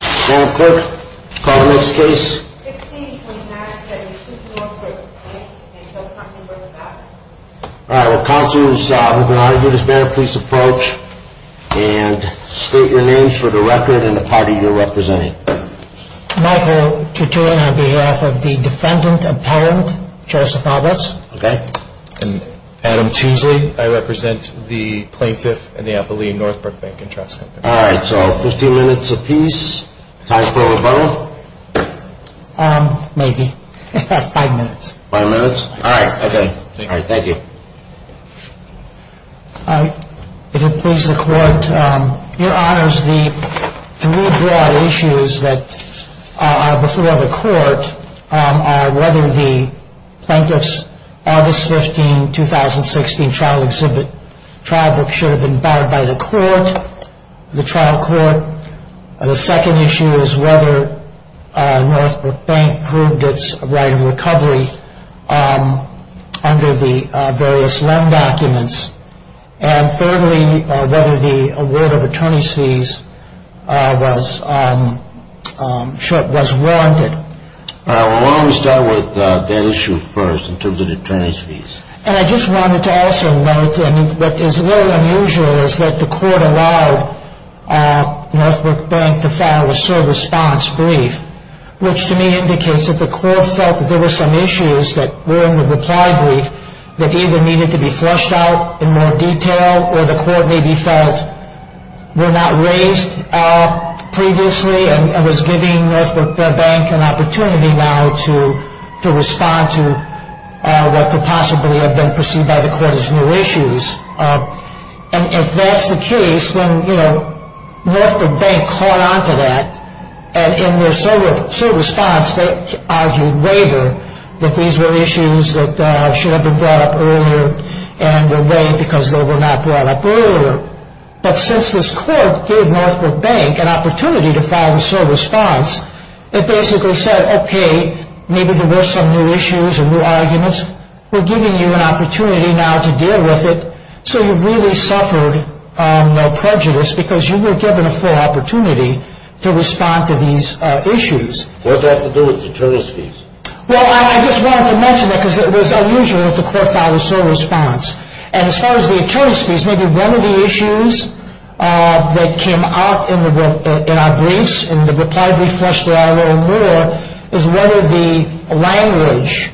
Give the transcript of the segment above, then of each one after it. The plaintiff and the appellee in Northbrook Bank and Trust Company. All right, so 15 minutes apiece. Time for a vote? Maybe. Five minutes. Five minutes? All right. Thank you. If it pleases the court, your honors, the three broad issues that are before the court are whether the plaintiff's August 15, 2016 trial exhibit trial book should have been borrowed by the court, the trial court. The second issue is whether Northbrook Bank proved its right of recovery under the various loan documents. And thirdly, whether the award of attorney's fees was warranted. Why don't we start with that issue first in terms of the attorney's fees. And I just wanted to also note that what is a little unusual is that the court allowed Northbrook Bank to file a service response brief, which to me indicates that the court felt that there were some issues that were in the reply brief that either needed to be fleshed out in more detail, or the court maybe felt were not raised previously and was giving Northbrook Bank an opportunity now to respond to what could possibly have been perceived by the court as new issues. And if that's the case, then, you know, Northbrook Bank caught on to that. And in their sole response, they argued later that these were issues that should have been brought up earlier and were weighed because they were not brought up earlier. But since this court gave Northbrook Bank an opportunity to file the sole response, it basically said, okay, maybe there were some new issues and new arguments. We're giving you an opportunity now to deal with it. So you really suffered no prejudice because you were given a full opportunity to respond to these issues. What does that have to do with the attorney's fees? Well, I just wanted to mention that because it was unusual that the court filed a sole response. And as far as the attorney's fees, maybe one of the issues that came up in our briefs, in the reply brief, fleshed out a little more, is whether the language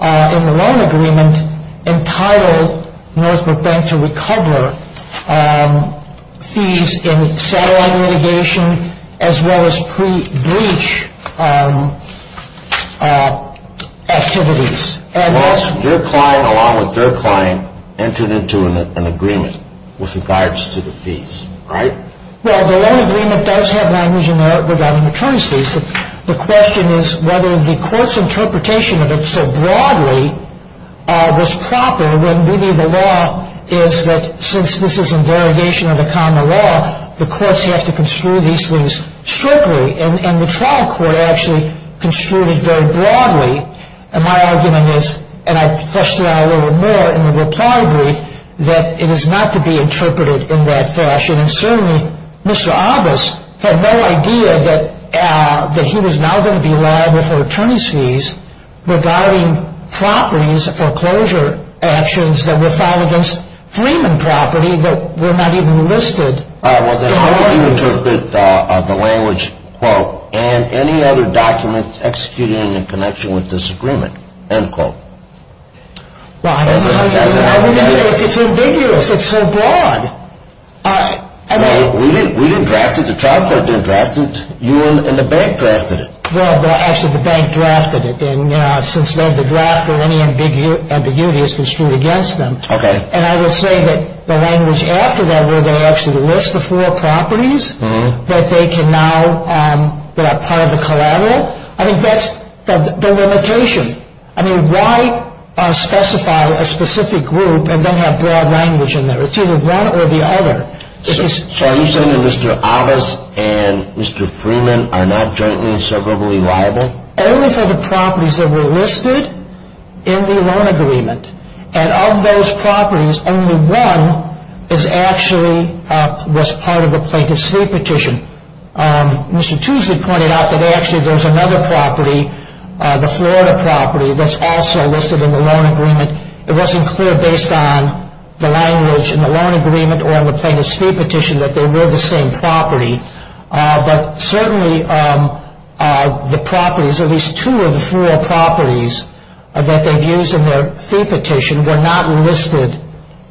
in the loan agreement entitled Northbrook Bank to recover fees in satellite litigation as well as pre-bleach activities. Your client, along with their client, entered into an agreement with regards to the fees, right? Well, the loan agreement does have language in there regarding the attorney's fees. The question is whether the court's interpretation of it so broadly was proper, when really the law is that since this is a derogation of the common law, the courts have to construe these things strictly. And the trial court actually construed it very broadly. And my argument is, and I fleshed it out a little more in the reply brief, that it is not to be interpreted in that fashion. And certainly, Mr. August had no idea that he was now going to be liable for attorney's fees regarding properties foreclosure actions that were filed against Freeman Property that were not even listed. All right, well, then how would you interpret the language, quote, and any other documents executed in connection with this agreement, end quote? It's ambiguous. It's so broad. We didn't draft it. The trial court didn't draft it. You and the bank drafted it. Well, actually, the bank drafted it. And since then, the draft or any ambiguity has been strewn against them. Okay. And I would say that the language after that where they actually list the four properties that they can now, that are part of the collateral, I think that's the limitation. I mean, why specify a specific group and then have broad language in there? It's either one or the other. So are you saying that Mr. August and Mr. Freeman are not jointly and soberly liable? Only for the properties that were listed in the loan agreement. And of those properties, only one actually was part of the plaintiff's fee petition. Mr. Tuesley pointed out that actually there was another property, the Florida property, that's also listed in the loan agreement. It wasn't clear based on the language in the loan agreement or in the plaintiff's fee petition that they were the same property. But certainly the properties, at least two of the four properties that they've used in their fee petition, were not listed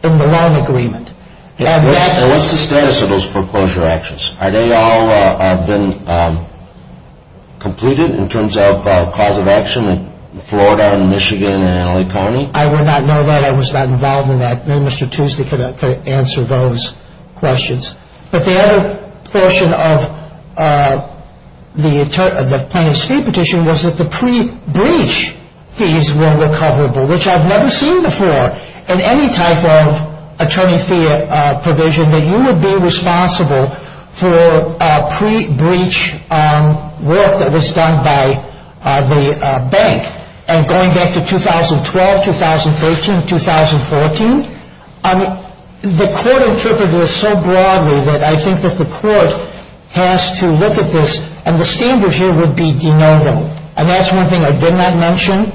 in the loan agreement. And what's the status of those foreclosure actions? Have they all been completed in terms of cause of action in Florida and Michigan and LA County? I would not know that. I was not involved in that. Maybe Mr. Tuesley could answer those questions. But the other portion of the plaintiff's fee petition was that the pre-breach fees were recoverable, which I've never seen before in any type of attorney fee provision, that you would be responsible for pre-breach work that was done by the bank. And going back to 2012, 2013, 2014, the Court interpreted this so broadly that I think that the Court has to look at this. And the standard here would be de novo. And that's one thing I did not mention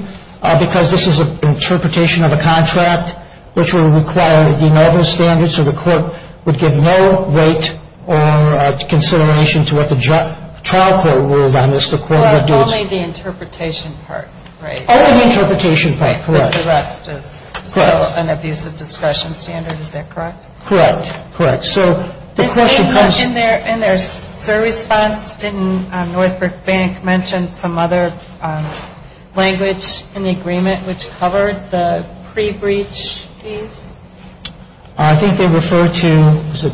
because this is an interpretation of a contract which would require a de novo standard. So the Court would give no weight or consideration to what the trial court ruled on this. But only the interpretation part, right? Only the interpretation part, correct. Because the rest is still an abusive discretion standard, is that correct? Correct. Correct. So the question comes... In their service funds, didn't Northbrook Bank mention some other language in the agreement which covered the pre-breach fees? I think they referred to, was it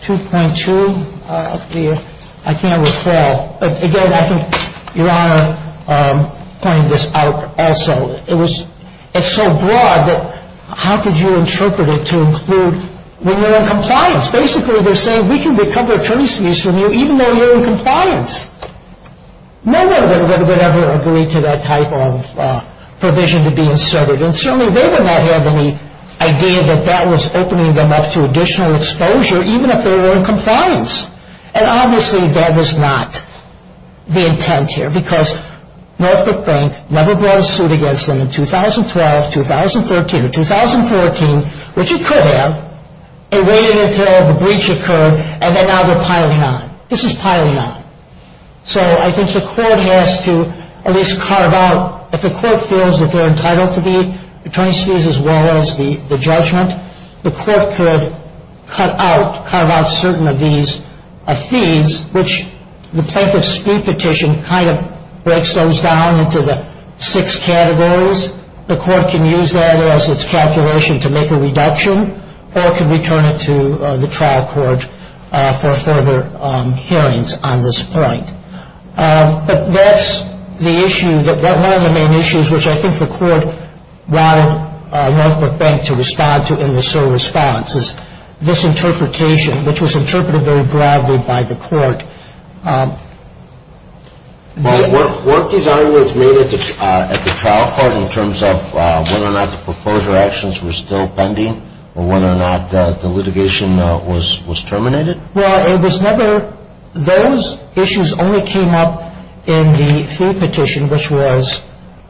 2.2? I can't recall. Again, I think Your Honor pointed this out also. It's so broad that how could you interpret it to include when you're in compliance? Basically, they're saying we can recover attorney fees from you even though you're in compliance. No one would ever agree to that type of provision to be inserted. And certainly they would not have any idea that that was opening them up to additional exposure even if they were in compliance. And obviously that was not the intent here because Northbrook Bank never brought a suit against them in 2012, 2013, or 2014, which it could have. It waited until the breach occurred and then now they're piling on. This is piling on. So I think the court has to at least carve out, if the court feels that they're entitled to the attorney's fees as well as the judgment, the court could cut out, carve out certain of these fees, which the plaintiff's fee petition kind of breaks those down into the six categories. The court can use that as its calculation to make a reduction or it can return it to the trial court for further hearings on this point. But that's the issue. One of the main issues which I think the court wanted Northbrook Bank to respond to in this sort of response is this interpretation, which was interpreted very broadly by the court. Well, weren't these arguments made at the trial court in terms of whether or not the proposal actions were still pending or whether or not the litigation was terminated? Well, it was never – those issues only came up in the fee petition, which was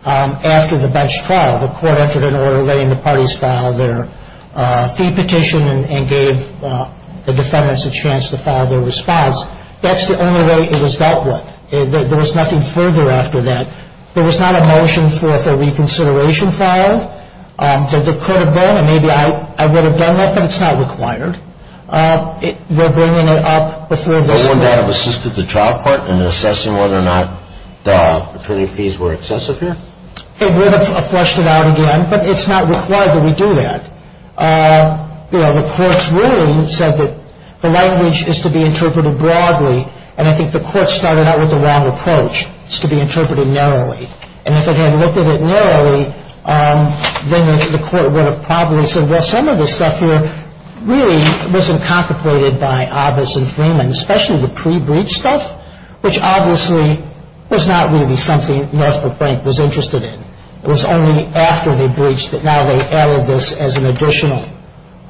after the bench trial. The court entered an order letting the parties file their fee petition and gave the defendants a chance to file their response. That's the only way it was dealt with. There was nothing further after that. There was not a motion for a reconsideration file. There could have been, and maybe I would have done that, but it's not required. We're bringing it up before this court. Wouldn't that have assisted the trial court in assessing whether or not the attorney fees were excessive here? It would have flushed it out again, but it's not required that we do that. You know, the court's ruling said that the language is to be interpreted broadly, and I think the court started out with the wrong approach. It's to be interpreted narrowly. And if it had looked at it narrowly, then the court would have probably said, well, some of this stuff here really wasn't contemplated by Abbas and Freeman, especially the pre-breach stuff, which obviously was not really something Northbrook Bank was interested in. It was only after they breached that now they added this as an additional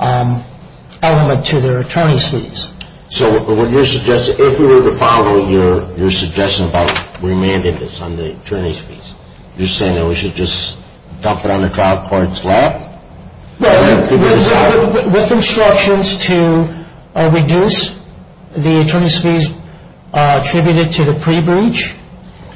element to their attorney's fees. So what you're suggesting, if we were to follow your suggestion about remanding this on the attorney's fees, you're saying that we should just dump it on the trial court's lap? Well, with instructions to reduce the attorney's fees attributed to the pre-breach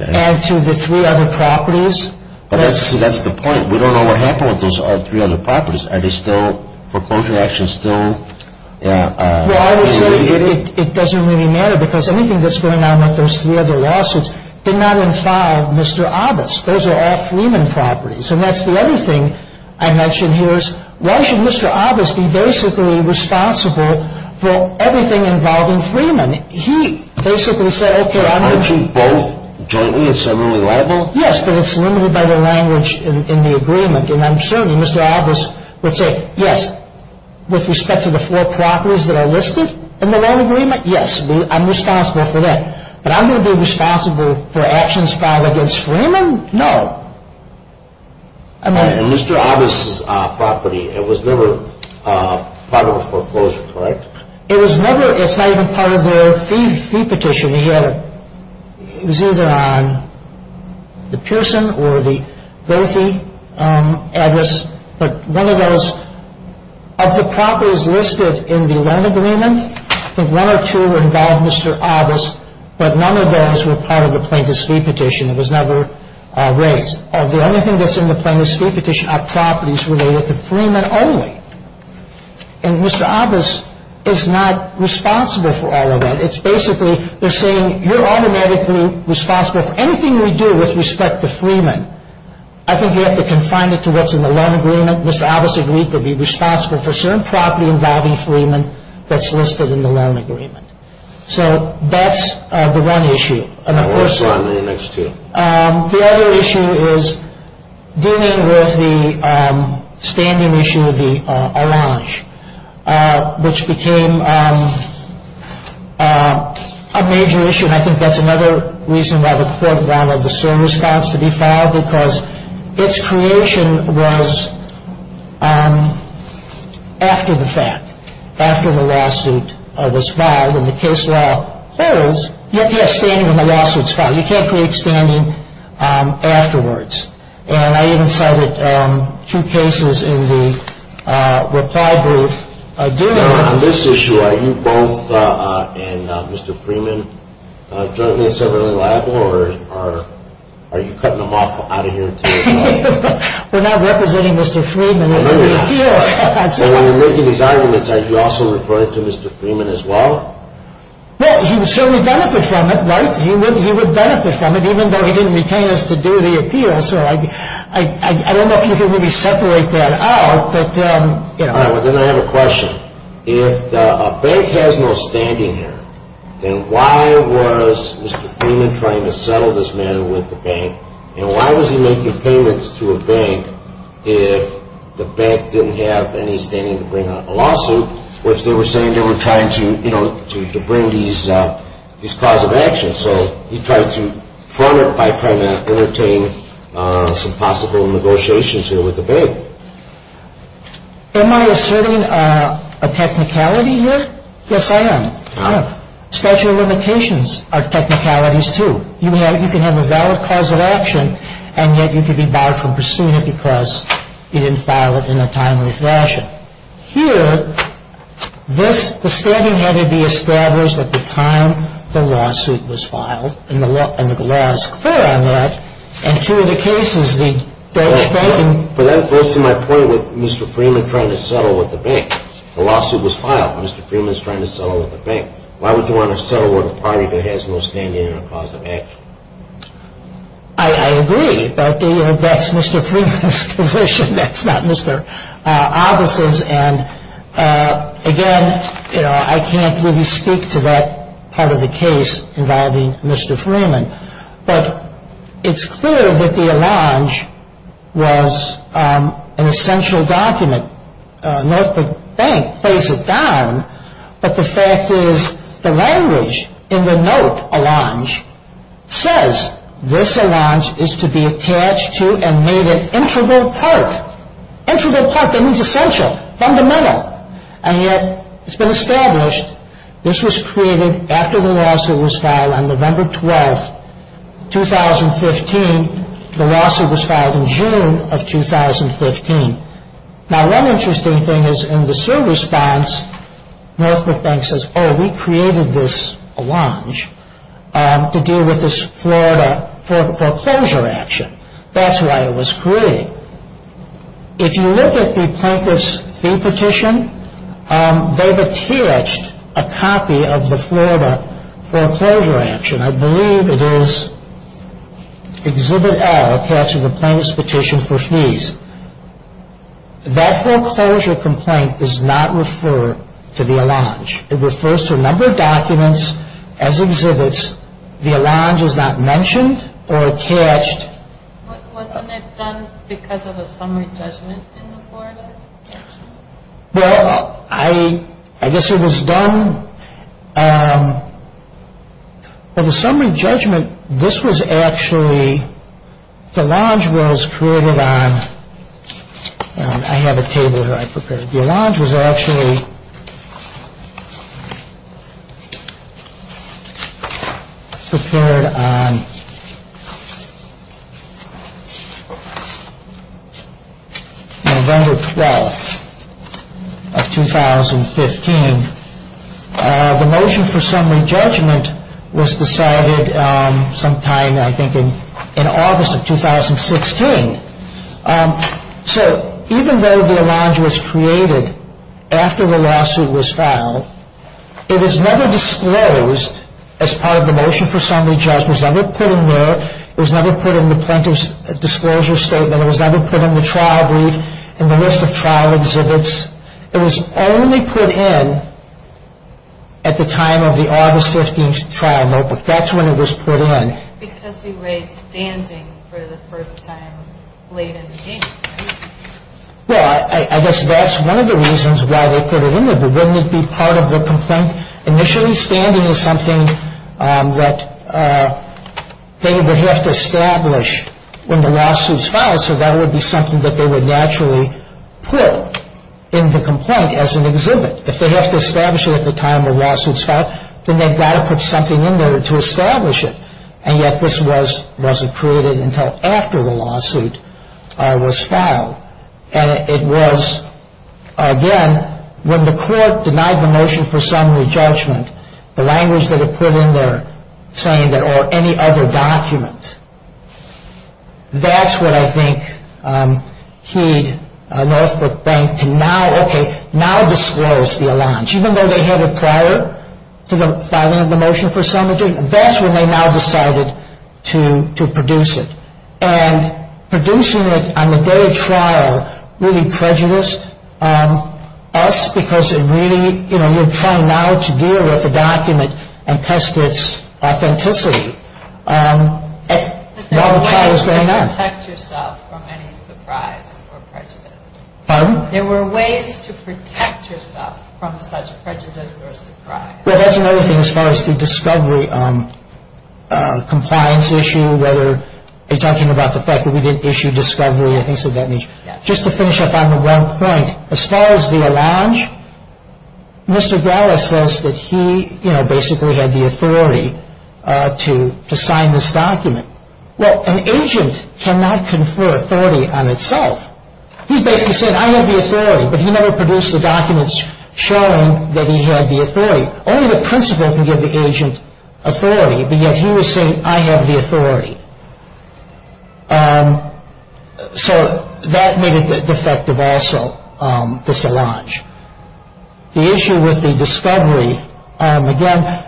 and to the three other properties. But that's the point. We don't know what happened with those three other properties. Are they still, foreclosure action still related? Well, I would say it doesn't really matter, because anything that's going on with those three other lawsuits did not involve Mr. Abbas. Those are all Freeman properties. And that's the other thing I mentioned here is, why should Mr. Abbas be basically responsible for everything involving Freeman? Aren't you both jointly and similarly liable? Yes, but it's limited by the language in the agreement. And I'm certain Mr. Abbas would say, yes, with respect to the four properties that are listed in the loan agreement, yes, I'm responsible for that. But I'm going to be responsible for actions filed against Freeman? No. And Mr. Abbas' property, it was never part of his foreclosure, correct? It was never. It's not even part of their fee petition. It was either on the Pearson or the Goethe address. But one of those, of the properties listed in the loan agreement, I think one or two involved Mr. Abbas, but none of those were part of the plaintiff's fee petition. It was never raised. The only thing that's in the plaintiff's fee petition are properties related to Freeman only. And Mr. Abbas is not responsible for all of that. It's basically they're saying you're automatically responsible for anything we do with respect to Freeman. I think you have to confine it to what's in the loan agreement. Mr. Abbas agreed to be responsible for certain property involving Freeman that's listed in the loan agreement. So that's the one issue. And the first one. And the next two. The other issue is dealing with the standing issue of the Arrange, which became a major issue. And I think that's another reason why the court wanted the CERN response to be filed, because its creation was after the fact, after the lawsuit was filed. And the case law holds you have to have standing when the lawsuit is filed. You can't create standing afterwards. And I even cited two cases in the reply brief. Now, on this issue, are you both and Mr. Freeman jointly severely liable, or are you cutting them off out of your team? We're not representing Mr. Freeman. No, we're not. And when you're making these arguments, are you also reporting to Mr. Freeman as well? Well, he would certainly benefit from it, right? He would benefit from it, even though he didn't retain us to do the appeal. So I don't know if you can really separate that out, but, you know. All right. Well, then I have a question. If a bank has no standing here, then why was Mr. Freeman trying to settle this matter with the bank? And why was he making payments to a bank if the bank didn't have any standing to bring a lawsuit, which they were saying they were trying to, you know, to bring these cause of action. So he tried to front it by trying to entertain some possible negotiations here with the bank. Am I asserting a technicality here? Yes, I am. Statute of limitations are technicalities too. You can have a valid cause of action, and yet you can be barred from pursuing it because you didn't file it in a timely fashion. Here, this, the standing had to be established at the time the lawsuit was filed, and the law is clear on that. And two of the cases, the Dutch bank. But that goes to my point with Mr. Freeman trying to settle with the bank. The lawsuit was filed. Mr. Freeman is trying to settle with the bank. Why would they want to settle with a party that has no standing and no cause of action? I agree, but that's Mr. Freeman's position. That's not Mr. Obbas's. And, again, you know, I can't really speak to that part of the case involving Mr. Freeman. But it's clear that the allonge was an essential document. Norfolk Bank plays it down, but the fact is the language in the note allonge says, this allonge is to be attached to and made an integral part. Integral part, that means essential, fundamental. And yet it's been established this was created after the lawsuit was filed on November 12, 2015. The lawsuit was filed in June of 2015. Now, one interesting thing is in the SIR response, Norfolk Bank says, oh, we created this allonge to deal with this Florida foreclosure action. That's why it was created. If you look at the plaintiff's fee petition, they've attached a copy of the Florida foreclosure action. I believe it is Exhibit L, attached to the plaintiff's petition for fees. That foreclosure complaint does not refer to the allonge. It refers to a number of documents as exhibits. The allonge is not mentioned or attached. Wasn't it done because of a summary judgment in the Florida petition? Well, I guess it was done, well, the summary judgment, this was actually, the allonge was created on, I have a table here I prepared. The allonge was actually prepared on November 12 of 2015. The motion for summary judgment was decided sometime, I think, in August of 2016. So even though the allonge was created after the lawsuit was filed, it was never disclosed as part of the motion for summary judgment. It was never put in there. It was never put in the plaintiff's disclosure statement. It was never put in the trial brief, in the list of trial exhibits. It was only put in at the time of the August 15th trial notebook. That's when it was put in. Because he raised standing for the first time late in the game. Well, I guess that's one of the reasons why they put it in there. But wouldn't it be part of the complaint? Initially, standing is something that they would have to establish when the lawsuits filed, so that would be something that they would naturally put in the complaint as an exhibit. If they have to establish it at the time the lawsuits filed, then they've got to put something in there to establish it. And yet this wasn't created until after the lawsuit was filed. And it was, again, when the court denied the motion for summary judgment, the language that it put in there saying that, or any other document, that's what I think he, Northbrook Bank, to now, okay, now disclose the allonge. But even though they had a prior to the filing of the motion for summary judgment, that's when they now decided to produce it. And producing it on the day of trial really prejudiced us because it really, you know, you're trying now to deal with a document and test its authenticity while the trial is going on. There were ways to protect yourself from any surprise or prejudice. Pardon? There were ways to protect yourself from such prejudice or surprise. Well, that's another thing as far as the discovery compliance issue, whether you're talking about the fact that we didn't issue discovery or things of that nature. Yes. Just to finish up on the one point, as far as the allonge, Mr. Gallis says that he, you know, basically had the authority to sign this document. Well, an agent cannot confer authority on itself. He's basically saying, I have the authority. But he never produced the documents showing that he had the authority. Only the principal can give the agent authority, but yet he was saying, I have the authority. So that made it defective also, this allonge. The issue with the discovery, again,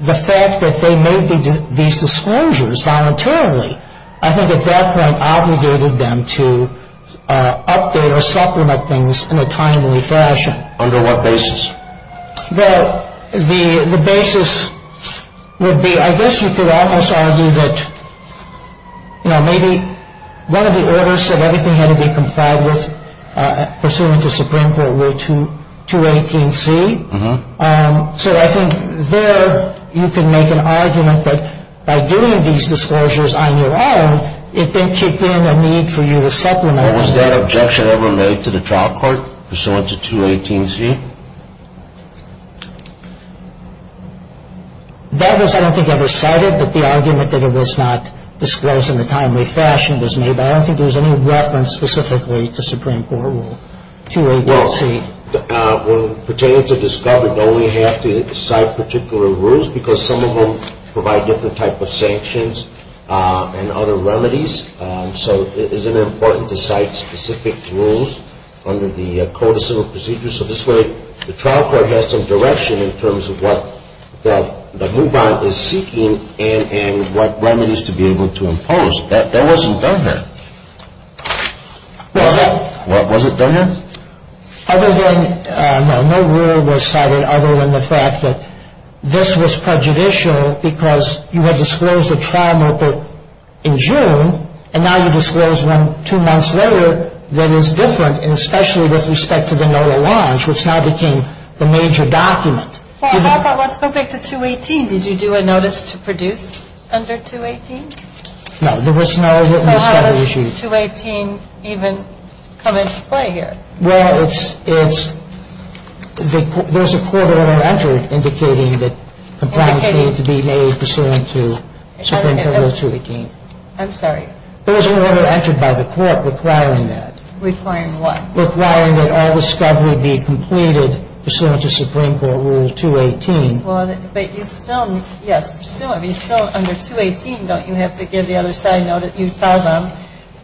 the fact that they made these disclosures voluntarily, I think at that point obligated them to update or supplement things in a timely fashion. Under what basis? Well, the basis would be, I guess you could almost argue that, you know, maybe one of the orders said everything had to be complied with pursuant to Supreme Court Rule 218C. So I think there you can make an argument that by doing these disclosures on your own, it then kicked in a need for you to supplement. Was that objection ever made to the trial court pursuant to 218C? That was I don't think ever cited, but the argument that it was not disclosed in a timely fashion was made, but I don't think there was any reference specifically to Supreme Court Rule 218C. Pertaining to discovery, though, we have to cite particular rules because some of them provide different type of sanctions and other remedies, so it isn't important to cite specific rules under the code of civil procedures. So this way, the trial court has some direction in terms of what the move-on is seeking and what remedies to be able to impose. That wasn't done here. Was it? Was it done here? Other than, no, no rule was cited other than the fact that this was prejudicial because you had disclosed a trial notebook in June and now you disclose one two months later that is different, and especially with respect to the NOLA launch, which now became the major document. Well, how about, let's go back to 218. Did you do a notice to produce under 218? No, there was no written discovery issued. So how does 218 even come into play here? Well, it's, it's, there's a court order entered indicating that compliance needed to be made pursuant to Supreme Court Rule 218. I'm sorry. There was an order entered by the court requiring that. Requiring what? Requiring that all discovery be completed pursuant to Supreme Court Rule 218. Well, but you still, yes, pursuant, but you still, under 218, don't you have to give the other side note that you tell them,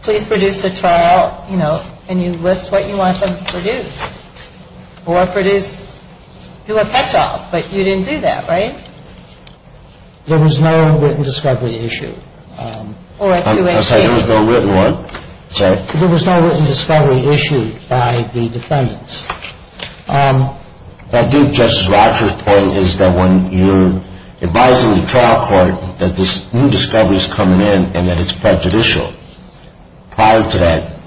please produce the trial, you know, and you list what you want them to produce or produce, do a catch-all, but you didn't do that, right? There was no written discovery issued. Or a 218. I'm sorry, there was no written what? Sorry. There was no written discovery issued by the defendants. I think Justice Rogers' point is that when you're advising the trial court that this new discovery is coming in and that it's prejudicial. Prior to that,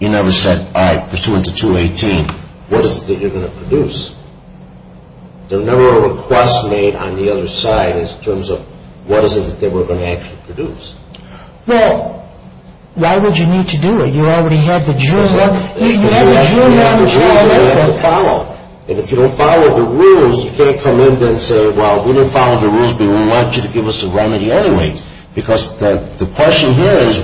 you never said, all right, pursuant to 218, what is it that you're going to produce? There was never a request made on the other side in terms of what is it that we're going to actually produce? Well, why would you need to do it? If you don't follow the rules, you have to follow. And if you don't follow the rules, you can't come in and say, well, we don't follow the rules, but we want you to give us a remedy anyway. Because the question here is,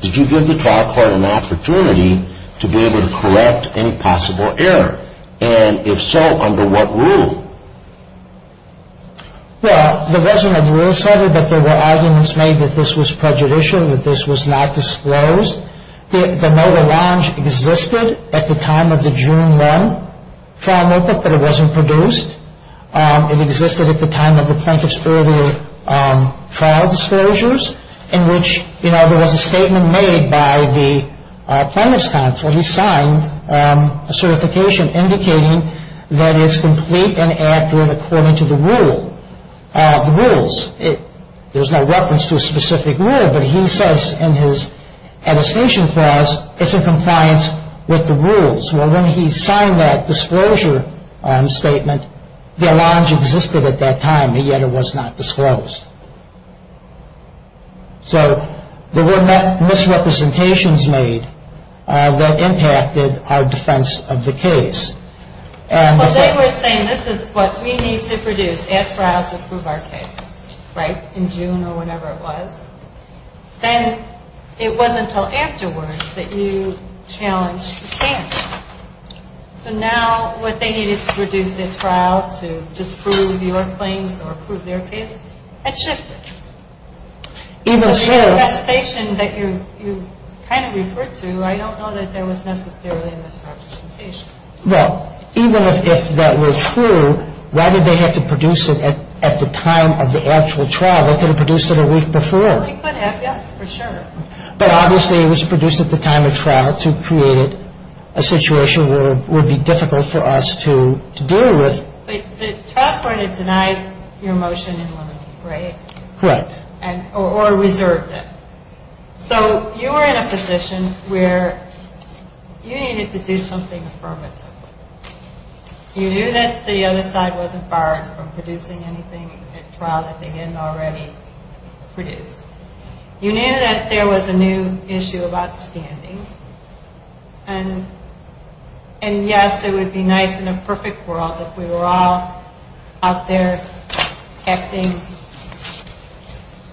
did you give the trial court an opportunity to be able to correct any possible error? And if so, under what rule? Well, the resident of the rule said that there were arguments made that this was prejudicial, that this was not disclosed. The notary launch existed at the time of the June 1 trial notebook, but it wasn't produced. It existed at the time of the plaintiff's earlier trial disclosures in which, you know, there was a statement made by the plaintiff's counsel. He signed a certification indicating that it's complete and accurate according to the rule, the rules. There's no reference to a specific rule, but he says in his attestation clause, it's in compliance with the rules. Well, when he signed that disclosure statement, the launch existed at that time, yet it was not disclosed. So there were misrepresentations made that impacted our defense of the case. Well, they were saying this is what we need to produce at trial to prove our case, right? In June or whenever it was. Then it wasn't until afterwards that you challenged the stand. So now what they needed to produce at trial to disprove your claims or prove their case had shifted. Even so. So the attestation that you kind of referred to, I don't know that there was necessarily a misrepresentation. Well, even if that were true, why did they have to produce it at the time of the actual trial? They could have produced it a week before. A week and a half, yes, for sure. But obviously it was produced at the time of trial to create a situation where it would be difficult for us to deal with. But the trial court had denied your motion in one week, right? Correct. Or reserved it. So you were in a position where you needed to do something affirmative. You knew that the other side wasn't barred from producing anything at trial that they hadn't already produced. You knew that there was a new issue about standing. And yes, it would be nice in a perfect world if we were all out there acting,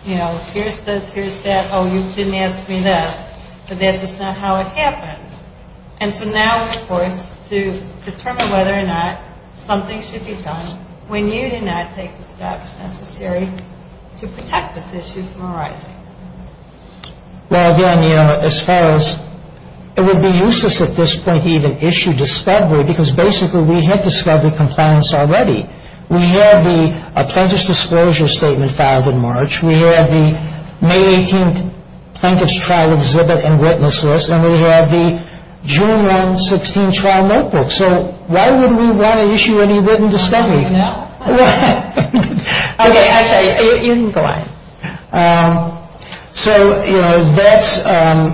you know, here's this, here's that, oh, you didn't ask me this, but that's just not how it happens. And so now we're forced to determine whether or not something should be done when you do not take the steps necessary to protect this issue from arising. Well, again, you know, as far as it would be useless at this point to even issue discovery because basically we had discovery compliance already. We had the May 18th Plaintiff's Trial Exhibit and Witness List. And we had the June 1, 2016, Trial Notebook. So why would we want to issue any written discovery? I don't know. Okay, actually, you can go on. So, you know, that's,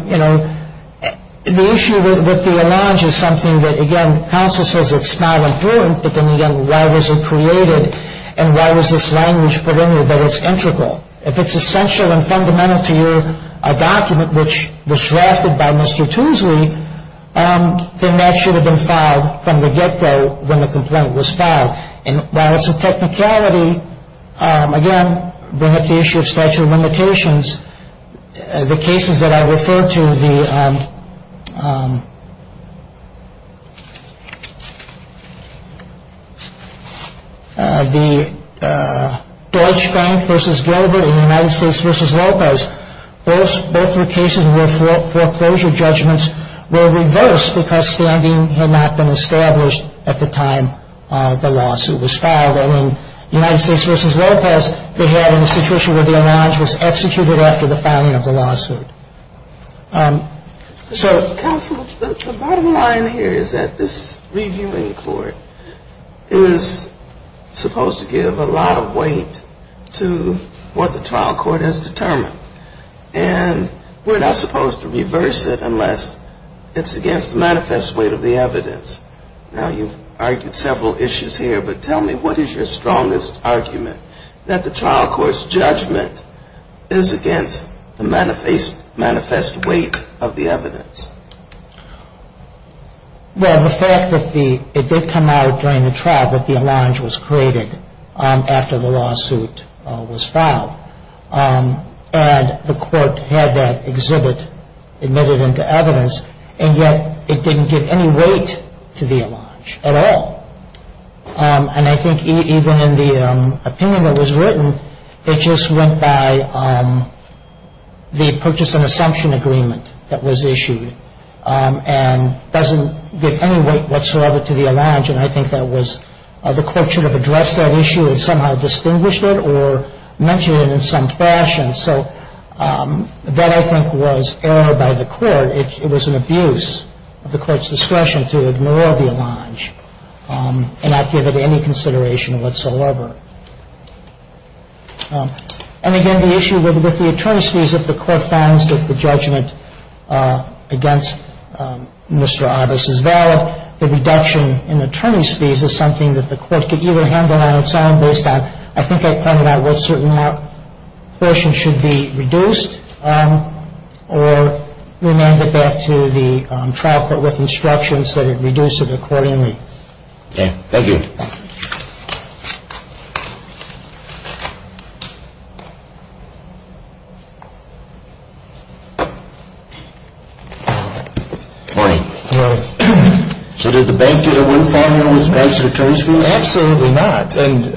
you know, the issue with the homage is something that, again, counsel says it's not important, but then again, why was it created? And why was this language put in there that it's integral? If it's essential and fundamental to your document, which was drafted by Mr. Toosley, then that should have been filed from the get-go when the complaint was filed. And while it's a technicality, again, bring up the issue of statute of limitations, the cases that I referred to, the Deutsch Bank v. Gilbert and the United States v. Lopez, both were cases where foreclosure judgments were reversed because standing had not been established at the time the lawsuit was filed. And in United States v. Lopez, they had a situation where the homage was executed after the filing of the lawsuit. So counsel, the bottom line here is that this reviewing court is supposed to give a lot of weight to what the trial court has determined. And we're not supposed to reverse it unless it's against the manifest weight of the evidence. Now, you've argued several issues here, but tell me what is your strongest argument, that the trial court's judgment is against the manifest weight of the evidence? Well, the fact that it did come out during the trial that the homage was created after the lawsuit was filed, and the court had that exhibit admitted into evidence, and yet it didn't give any weight to the homage at all. And I think even in the opinion that was written, it just went by the purchase and assumption agreement that was issued and doesn't give any weight whatsoever to the homage. And I think that was the court should have addressed that issue and somehow distinguished it or mentioned it in some fashion. So that, I think, was error by the court. It was an abuse of the court's discretion to ignore the homage and not give it any consideration whatsoever. And again, the issue with the attorneys' fees, if the court finds that the judgment against Mr. Arbus is valid, the reduction in attorney's fees is something that the court could either handle on its own based on, I think I pointed out what certain portions should be reduced, or remanded back to the trial court with instructions that it reduce it accordingly. Okay. Thank you. Thank you. Good morning. Good morning. So did the bank get a windfall on those banks' attorney's fees? Absolutely not. And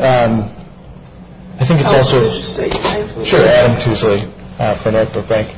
I think it's also – I'll let you state your name, please. Sure. Adam Tueslay for Norfolk Bank.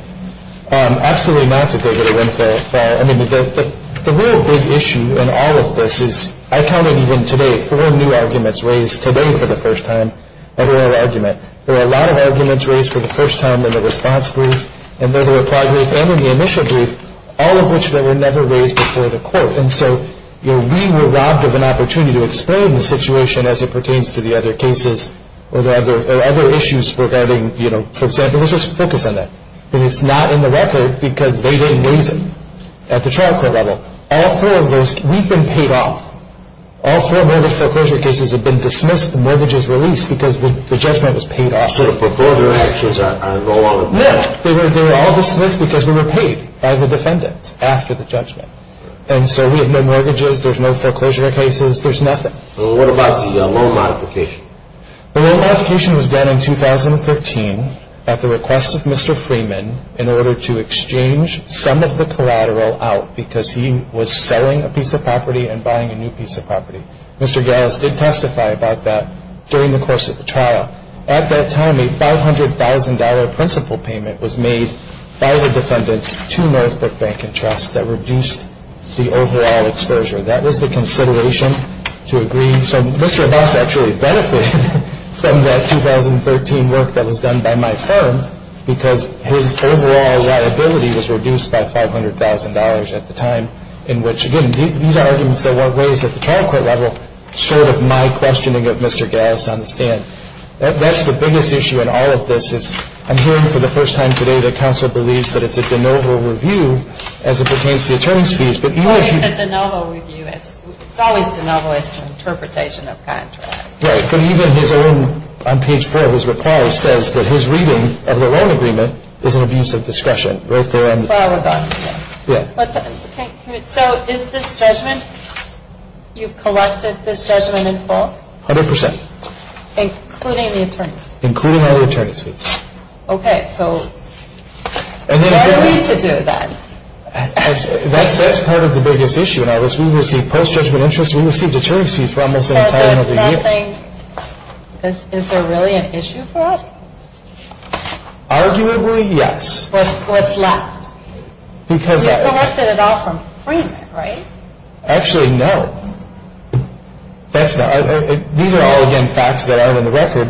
Absolutely not that they get a windfall. I mean, the real big issue in all of this is, I counted even today, four new arguments raised today for the first time at oral argument. There were a lot of arguments raised for the first time in the response brief and the reply brief and in the initial brief, all of which were never raised before the court. And so, you know, we were robbed of an opportunity to explain the situation as it pertains to the other cases or other issues regarding, you know, for example, let's just focus on that. And it's not in the record because they didn't raise it at the trial court level. All four of those – we've been paid off. All four mortgage foreclosure cases have been dismissed, the mortgages released because the judgment was paid off. So the foreclosure actions are no longer – No, they were all dismissed because we were paid by the defendants after the judgment. And so we have no mortgages, there's no foreclosure cases, there's nothing. So what about the loan modification? The loan modification was done in 2013 at the request of Mr. Freeman in order to exchange some of the collateral out because he was selling a piece of property and buying a new piece of property. Mr. Gales did testify about that during the course of the trial. At that time, a $500,000 principal payment was made by the defendants to Northbrook Bank and Trust that reduced the overall exposure. That was the consideration to agree. And so Mr. Abbas actually benefited from that 2013 work that was done by my firm because his overall liability was reduced by $500,000 at the time in which, again, these are arguments that weren't raised at the trial court level short of my questioning of Mr. Gales on the stand. That's the biggest issue in all of this is I'm hearing for the first time today that counsel believes that it's a de novo review as it pertains to the attorney's fees. Well, it's a de novo review. It's always de novo as an interpretation of contract. Right. But even his own, on page 4 of his reply, says that his reading of the loan agreement is an abuse of discretion right there. So is this judgment, you've collected this judgment in full? A hundred percent. Including the attorney's? Including all the attorney's fees. Okay. So what are we to do then? That's part of the biggest issue in all this. We received post-judgment interest. We received attorney's fees for almost an entire number of years. Is there really an issue for us? Arguably, yes. What's left? We've collected it all from print, right? Actually, no. These are all, again, facts that aren't on the record.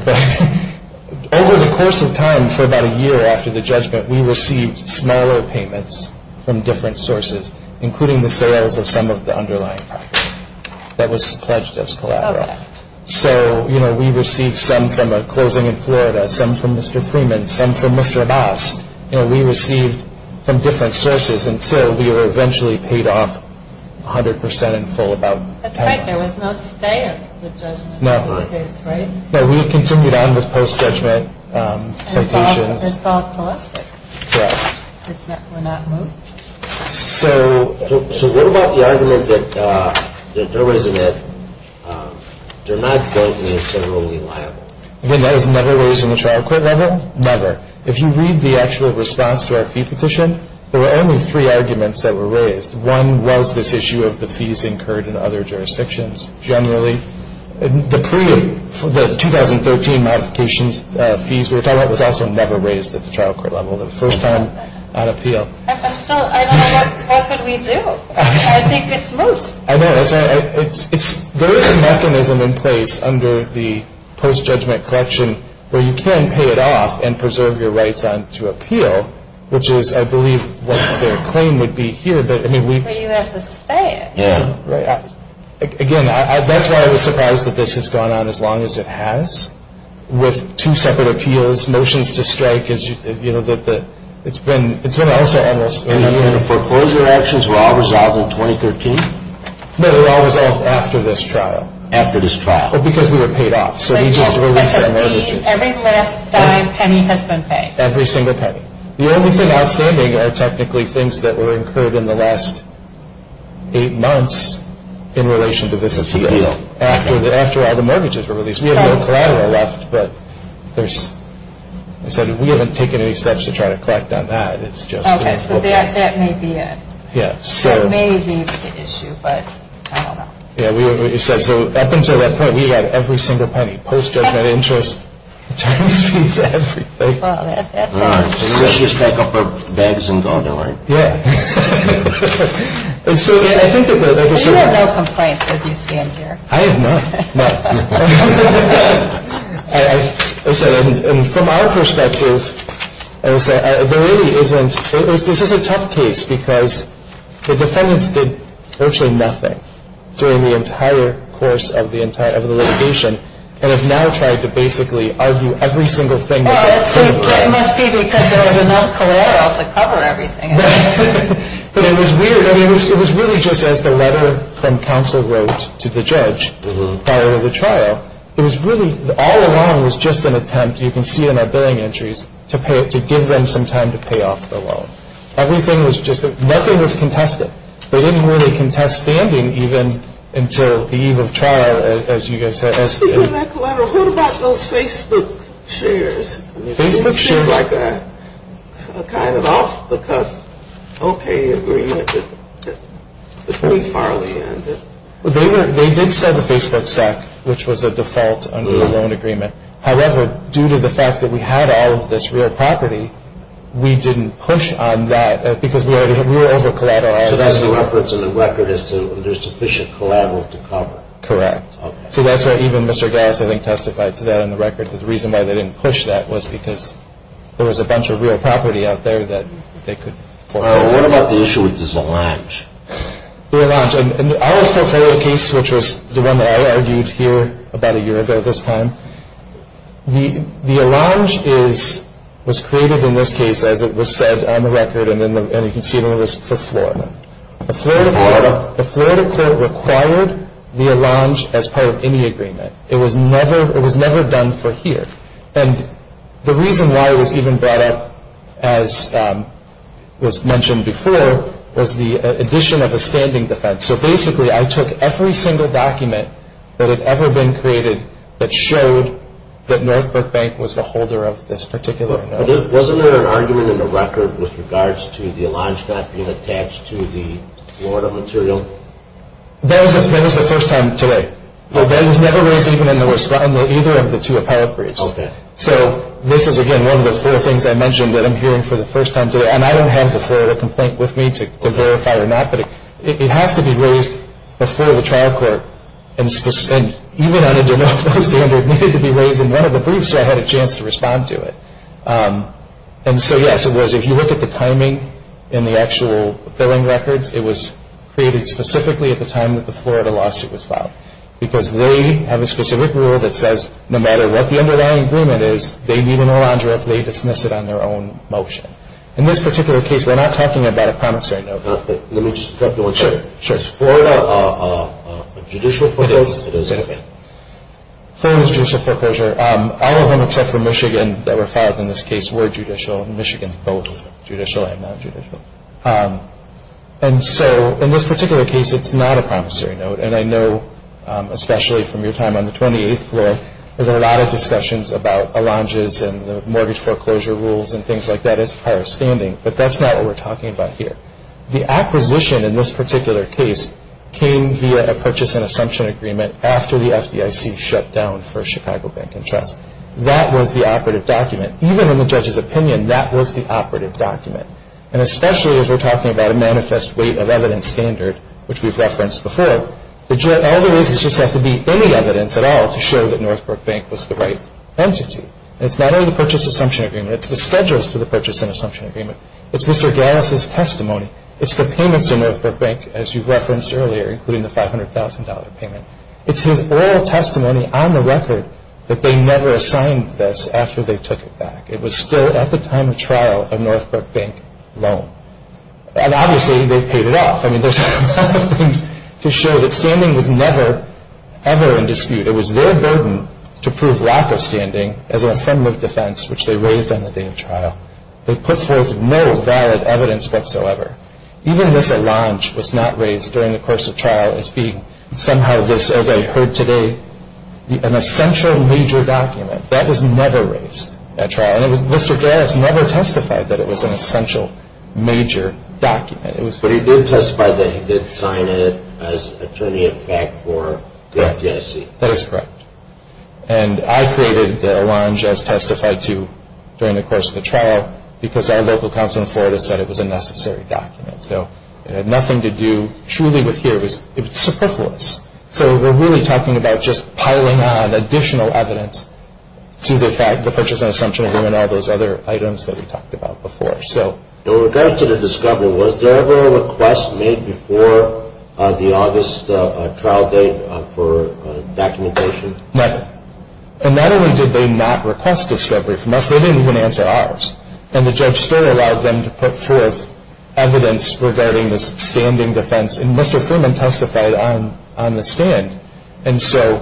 Over the course of time, for about a year after the judgment, we received smaller payments from different sources, including the sales of some of the underlying property that was pledged as collateral. Okay. So, you know, we received some from a closing in Florida, some from Mr. Freeman, some from Mr. Abbas. You know, we received from different sources until we were eventually paid off a hundred percent in full about ten months. That's right. There was no stay of the judgment in this case, right? No, we continued on with post-judgment citations. It's all collected? Correct. It's not moved? So what about the argument that they're not going to be considerably liable? Again, that is never raised in the trial court level, never. If you read the actual response to our fee petition, there were only three arguments that were raised. One was this issue of the fees incurred in other jurisdictions. Generally, the 2013 modifications fees we were talking about was also never raised at the trial court level, the first time on appeal. So I don't know what could we do. I think it's moved. I know. There is a mechanism in place under the post-judgment collection where you can pay it off and preserve your rights to appeal, which is, I believe, what their claim would be here. But you have to stay it. Again, that's why I was surprised that this has gone on as long as it has. With two separate appeals, motions to strike, it's been also endless. And the foreclosure actions were all resolved in 2013? No, they were all resolved after this trial. After this trial? Because we were paid off. So they just released their mortgages. Every last dime, penny has been paid? Every single penny. The only thing outstanding are technically things that were incurred in the last eight months in relation to this appeal. After all the mortgages were released. We have no collateral left, but we haven't taken any steps to try to collect on that. Okay, so that may be it. That may be the issue, but I don't know. So up until that point, we had every single penny. Post-judgment interest, insurance fees, everything. Let's just pack up our bags and go, don't worry. So you have no complaints as you stand here? I have none, none. From our perspective, there really isn't. This is a tough case because the defendants did virtually nothing during the entire course of the litigation and have now tried to basically argue every single thing. Well, it must be because there was enough collateral to cover everything. But it was weird. I mean, it was really just as the letter from counsel wrote to the judge prior to the trial. It was really, all along was just an attempt, you can see in our billing entries, to give them some time to pay off the loan. Everything was just, nothing was contested. They didn't really contest standing even until the eve of trial, as you guys said. Speaking of that collateral, what about those Facebook shares? Facebook shares. It seemed like a kind of off-the-cuff, okay agreement that pretty far on the end. They did set the Facebook stack, which was a default under the loan agreement. However, due to the fact that we had all of this real property, we didn't push on that because we were over-collateralizing. So there's no reference in the record as to if there's sufficient collateral to cover. Correct. So that's why even Mr. Gass, I think, testified to that in the record, that the reason why they didn't push that was because there was a bunch of real property out there that they could foreclose on. All right. What about the issue with this allange? The allange. In our portfolio case, which was the one that I argued here about a year ago this time, the allange was created in this case as it was said on the record, and you can see it on the list for Florida. Florida. So the Florida court required the allange as part of any agreement. It was never done for here. And the reason why it was even brought up, as was mentioned before, was the addition of a standing defense. So basically I took every single document that had ever been created that showed that Northbrook Bank was the holder of this particular note. Wasn't there an argument in the record with regards to the allange not being attached to the Florida material? That was the first time today. It was never raised even in either of the two appellate briefs. Okay. So this is, again, one of the four things I mentioned that I'm hearing for the first time today, and I don't have the Florida complaint with me to verify or not, but it has to be raised before the trial court, and even on a denial-of-file standard it needed to be raised in one of the briefs so I had a chance to respond to it. And so, yes, it was. If you look at the timing in the actual billing records, it was created specifically at the time that the Florida lawsuit was filed because they have a specific rule that says no matter what the underlying agreement is, they need an allange if they dismiss it on their own motion. In this particular case, we're not talking about a promissory note. Let me just interrupt you one second. Sure. Is Florida a judicial foreclosure? It is. Okay. Florida is a judicial foreclosure. All of them except for Michigan that were filed in this case were judicial, and Michigan is both judicial and non-judicial. And so in this particular case, it's not a promissory note, and I know especially from your time on the 28th floor, there's been a lot of discussions about allanges and the mortgage foreclosure rules and things like that as far as standing, but that's not what we're talking about here. The acquisition in this particular case came via a purchase and assumption agreement after the FDIC shut down for Chicago Bank and Trust. That was the operative document. Even in the judge's opinion, that was the operative document. And especially as we're talking about a manifest weight of evidence standard, which we've referenced before, all the reasons just have to be any evidence at all to show that Northbrook Bank was the right entity. And it's not only the purchase assumption agreement. It's the schedules to the purchase and assumption agreement. It's Mr. Gales' testimony. It's the payments to Northbrook Bank, as you've referenced earlier, including the $500,000 payment. It's his oral testimony on the record that they never assigned this after they took it back. It was still at the time of trial a Northbrook Bank loan. And obviously they've paid it off. I mean, there's a lot of things to show that standing was never ever in dispute. It was their burden to prove lack of standing as an affirmative defense, which they raised on the day of trial. They put forth no valid evidence whatsoever. Even this allonge was not raised during the course of trial as being somehow this, as I heard today, an essential major document. That was never raised at trial. And Mr. Gales never testified that it was an essential major document. But he did testify that he did sign it as attorney-of-fact for GFTSC. Correct. That is correct. No, because our local council in Florida said it was a necessary document. So it had nothing to do truly with here. It was superfluous. So we're really talking about just piling on additional evidence to the purchase and assumption agreement and all those other items that we talked about before. In regards to the discovery, was there ever a request made before the August trial date for documentation? Never. And not only did they not request discovery from us, they didn't even answer ours. And the judge still allowed them to put forth evidence regarding this standing defense. And Mr. Freeman testified on the stand. And so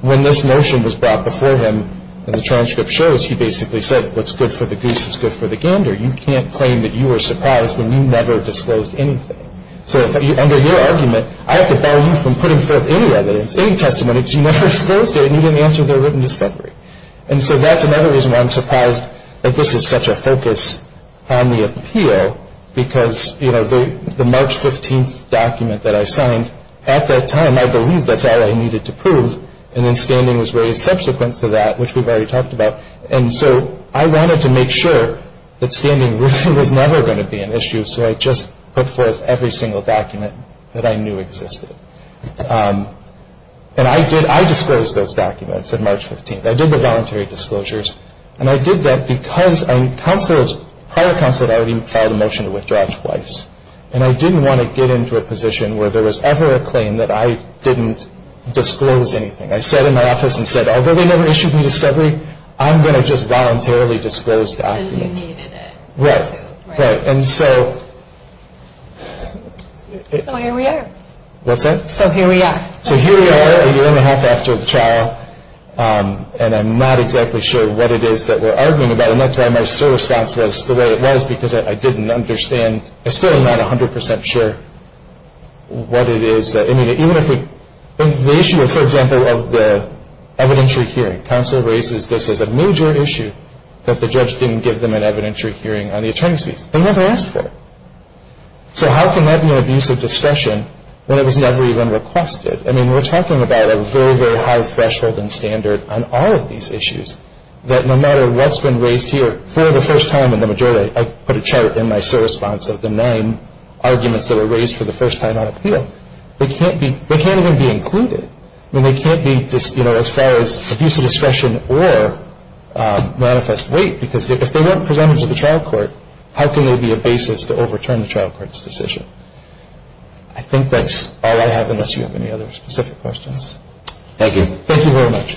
when this motion was brought before him and the transcript shows, he basically said what's good for the goose is good for the gander. You can't claim that you were surprised when you never disclosed anything. So under your argument, I have to bar you from putting forth any evidence, any testimony, and if you never disclosed it, you didn't answer their written discovery. And so that's another reason why I'm surprised that this is such a focus on the appeal, because the March 15th document that I signed, at that time, I believe that's all I needed to prove. And then standing was raised subsequent to that, which we've already talked about. And so I wanted to make sure that standing was never going to be an issue, so I just put forth every single document that I knew existed. And I disclosed those documents on March 15th. I did the voluntary disclosures. And I did that because prior counsel had already filed a motion to withdraw twice. And I didn't want to get into a position where there was ever a claim that I didn't disclose anything. I sat in my office and said, although they never issued me discovery, I'm going to just voluntarily disclose documents. Because you needed it. Right. Right. So here we are. What's that? So here we are. So here we are, a year and a half after the trial, and I'm not exactly sure what it is that we're arguing about. And that's why my response was the way it was, because I didn't understand. I'm still not 100 percent sure what it is. I mean, the issue, for example, of the evidentiary hearing, counsel raises this as a major issue that the judge didn't give them an evidentiary hearing on the attorney's fees. They never asked for it. So how can that be an abuse of discretion when it was never even requested? I mean, we're talking about a very, very high threshold and standard on all of these issues, that no matter what's been raised here, for the first time in the majority, I put a chart in my sole response of the nine arguments that were raised for the first time on appeal. They can't even be included. I mean, they can't be, you know, as far as abuse of discretion or manifest weight, because if they weren't presented to the trial court, how can they be a basis to overturn the trial court's decision? I think that's all I have, unless you have any other specific questions. Thank you. Thank you very much.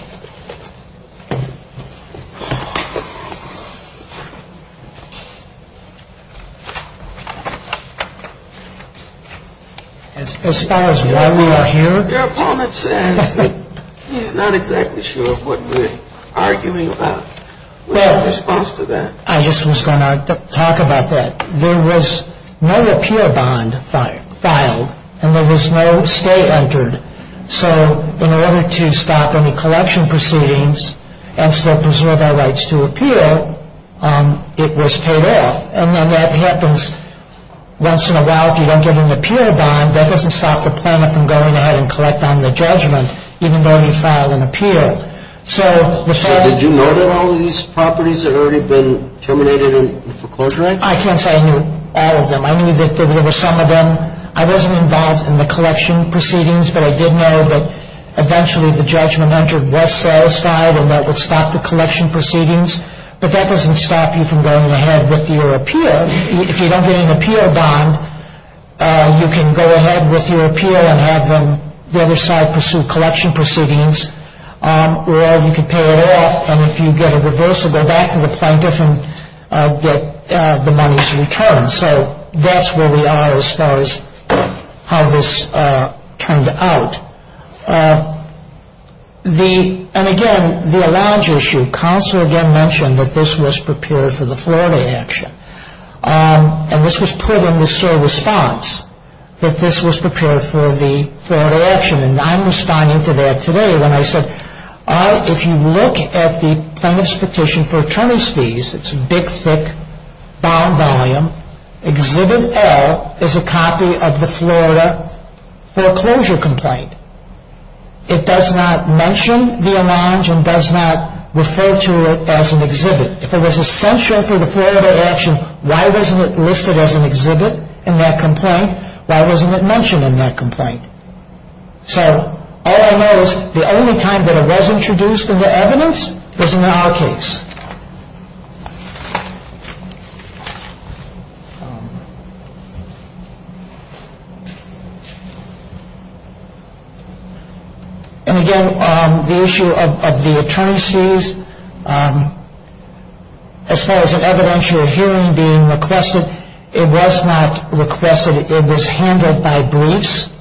As far as why we are here? Your opponent says that he's not exactly sure what we're arguing about. What's your response to that? I just was going to talk about that. There was no appeal bond filed, and there was no stay entered. So in order to stop any collection proceedings and still preserve our rights to appeal, it was paid off. And then that happens once in a while if you don't give them an appeal bond. That doesn't stop the planner from going ahead and collecting on the judgment, even though he filed an appeal. So did you know that all of these properties had already been terminated for closure? I can't say I knew all of them. I knew that there were some of them. I wasn't involved in the collection proceedings, but I did know that eventually the judgment entered was satisfied and that would stop the collection proceedings. But that doesn't stop you from going ahead with your appeal. If you don't get an appeal bond, you can go ahead with your appeal and have them, the other side, pursue collection proceedings. Or you can pay it off, and if you get a reversible back to the plaintiff and get the money's return. So that's where we are as far as how this turned out. And again, the allowance issue. Counsel again mentioned that this was prepared for the Florida action. And this was put in the SOAR response, that this was prepared for the Florida action. And I'm responding to that today when I said, if you look at the plaintiff's petition for attorney's fees, it's big, thick, bound volume. Exhibit L is a copy of the Florida foreclosure complaint. It does not mention the allowance and does not refer to it as an exhibit. If it was essential for the Florida action, why wasn't it listed as an exhibit in that complaint? Why wasn't it mentioned in that complaint? So all I know is the only time that it was introduced into evidence was in our case. And again, the issue of the attorney's fees. As far as an evidential hearing being requested, it was not requested. It was handled by briefs.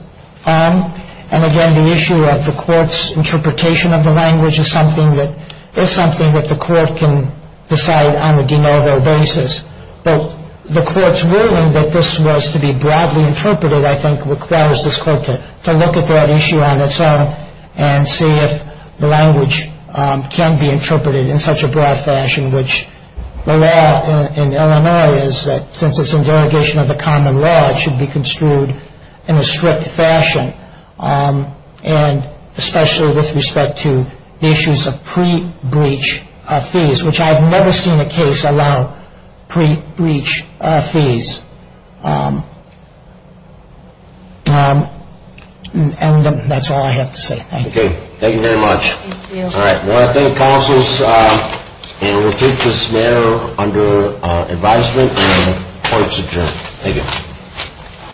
And again, the issue of the court's interpretation of the language is something that the court can decide on a de novo basis. But the court's ruling that this was to be broadly interpreted, I think, requires this court to look at that issue on its own and see if the language can be interpreted in such a broad fashion, which the law in Illinois is that since it's in derogation of the common law, it should be construed in a strict fashion, and especially with respect to the issues of pre-breach fees, which I've never seen a case allow pre-breach fees. And that's all I have to say. Thank you. Okay. Thank you very much. Thank you. All right. Well, I thank counsels. And we'll keep this matter under advisement, and the court's adjourned. Thank you.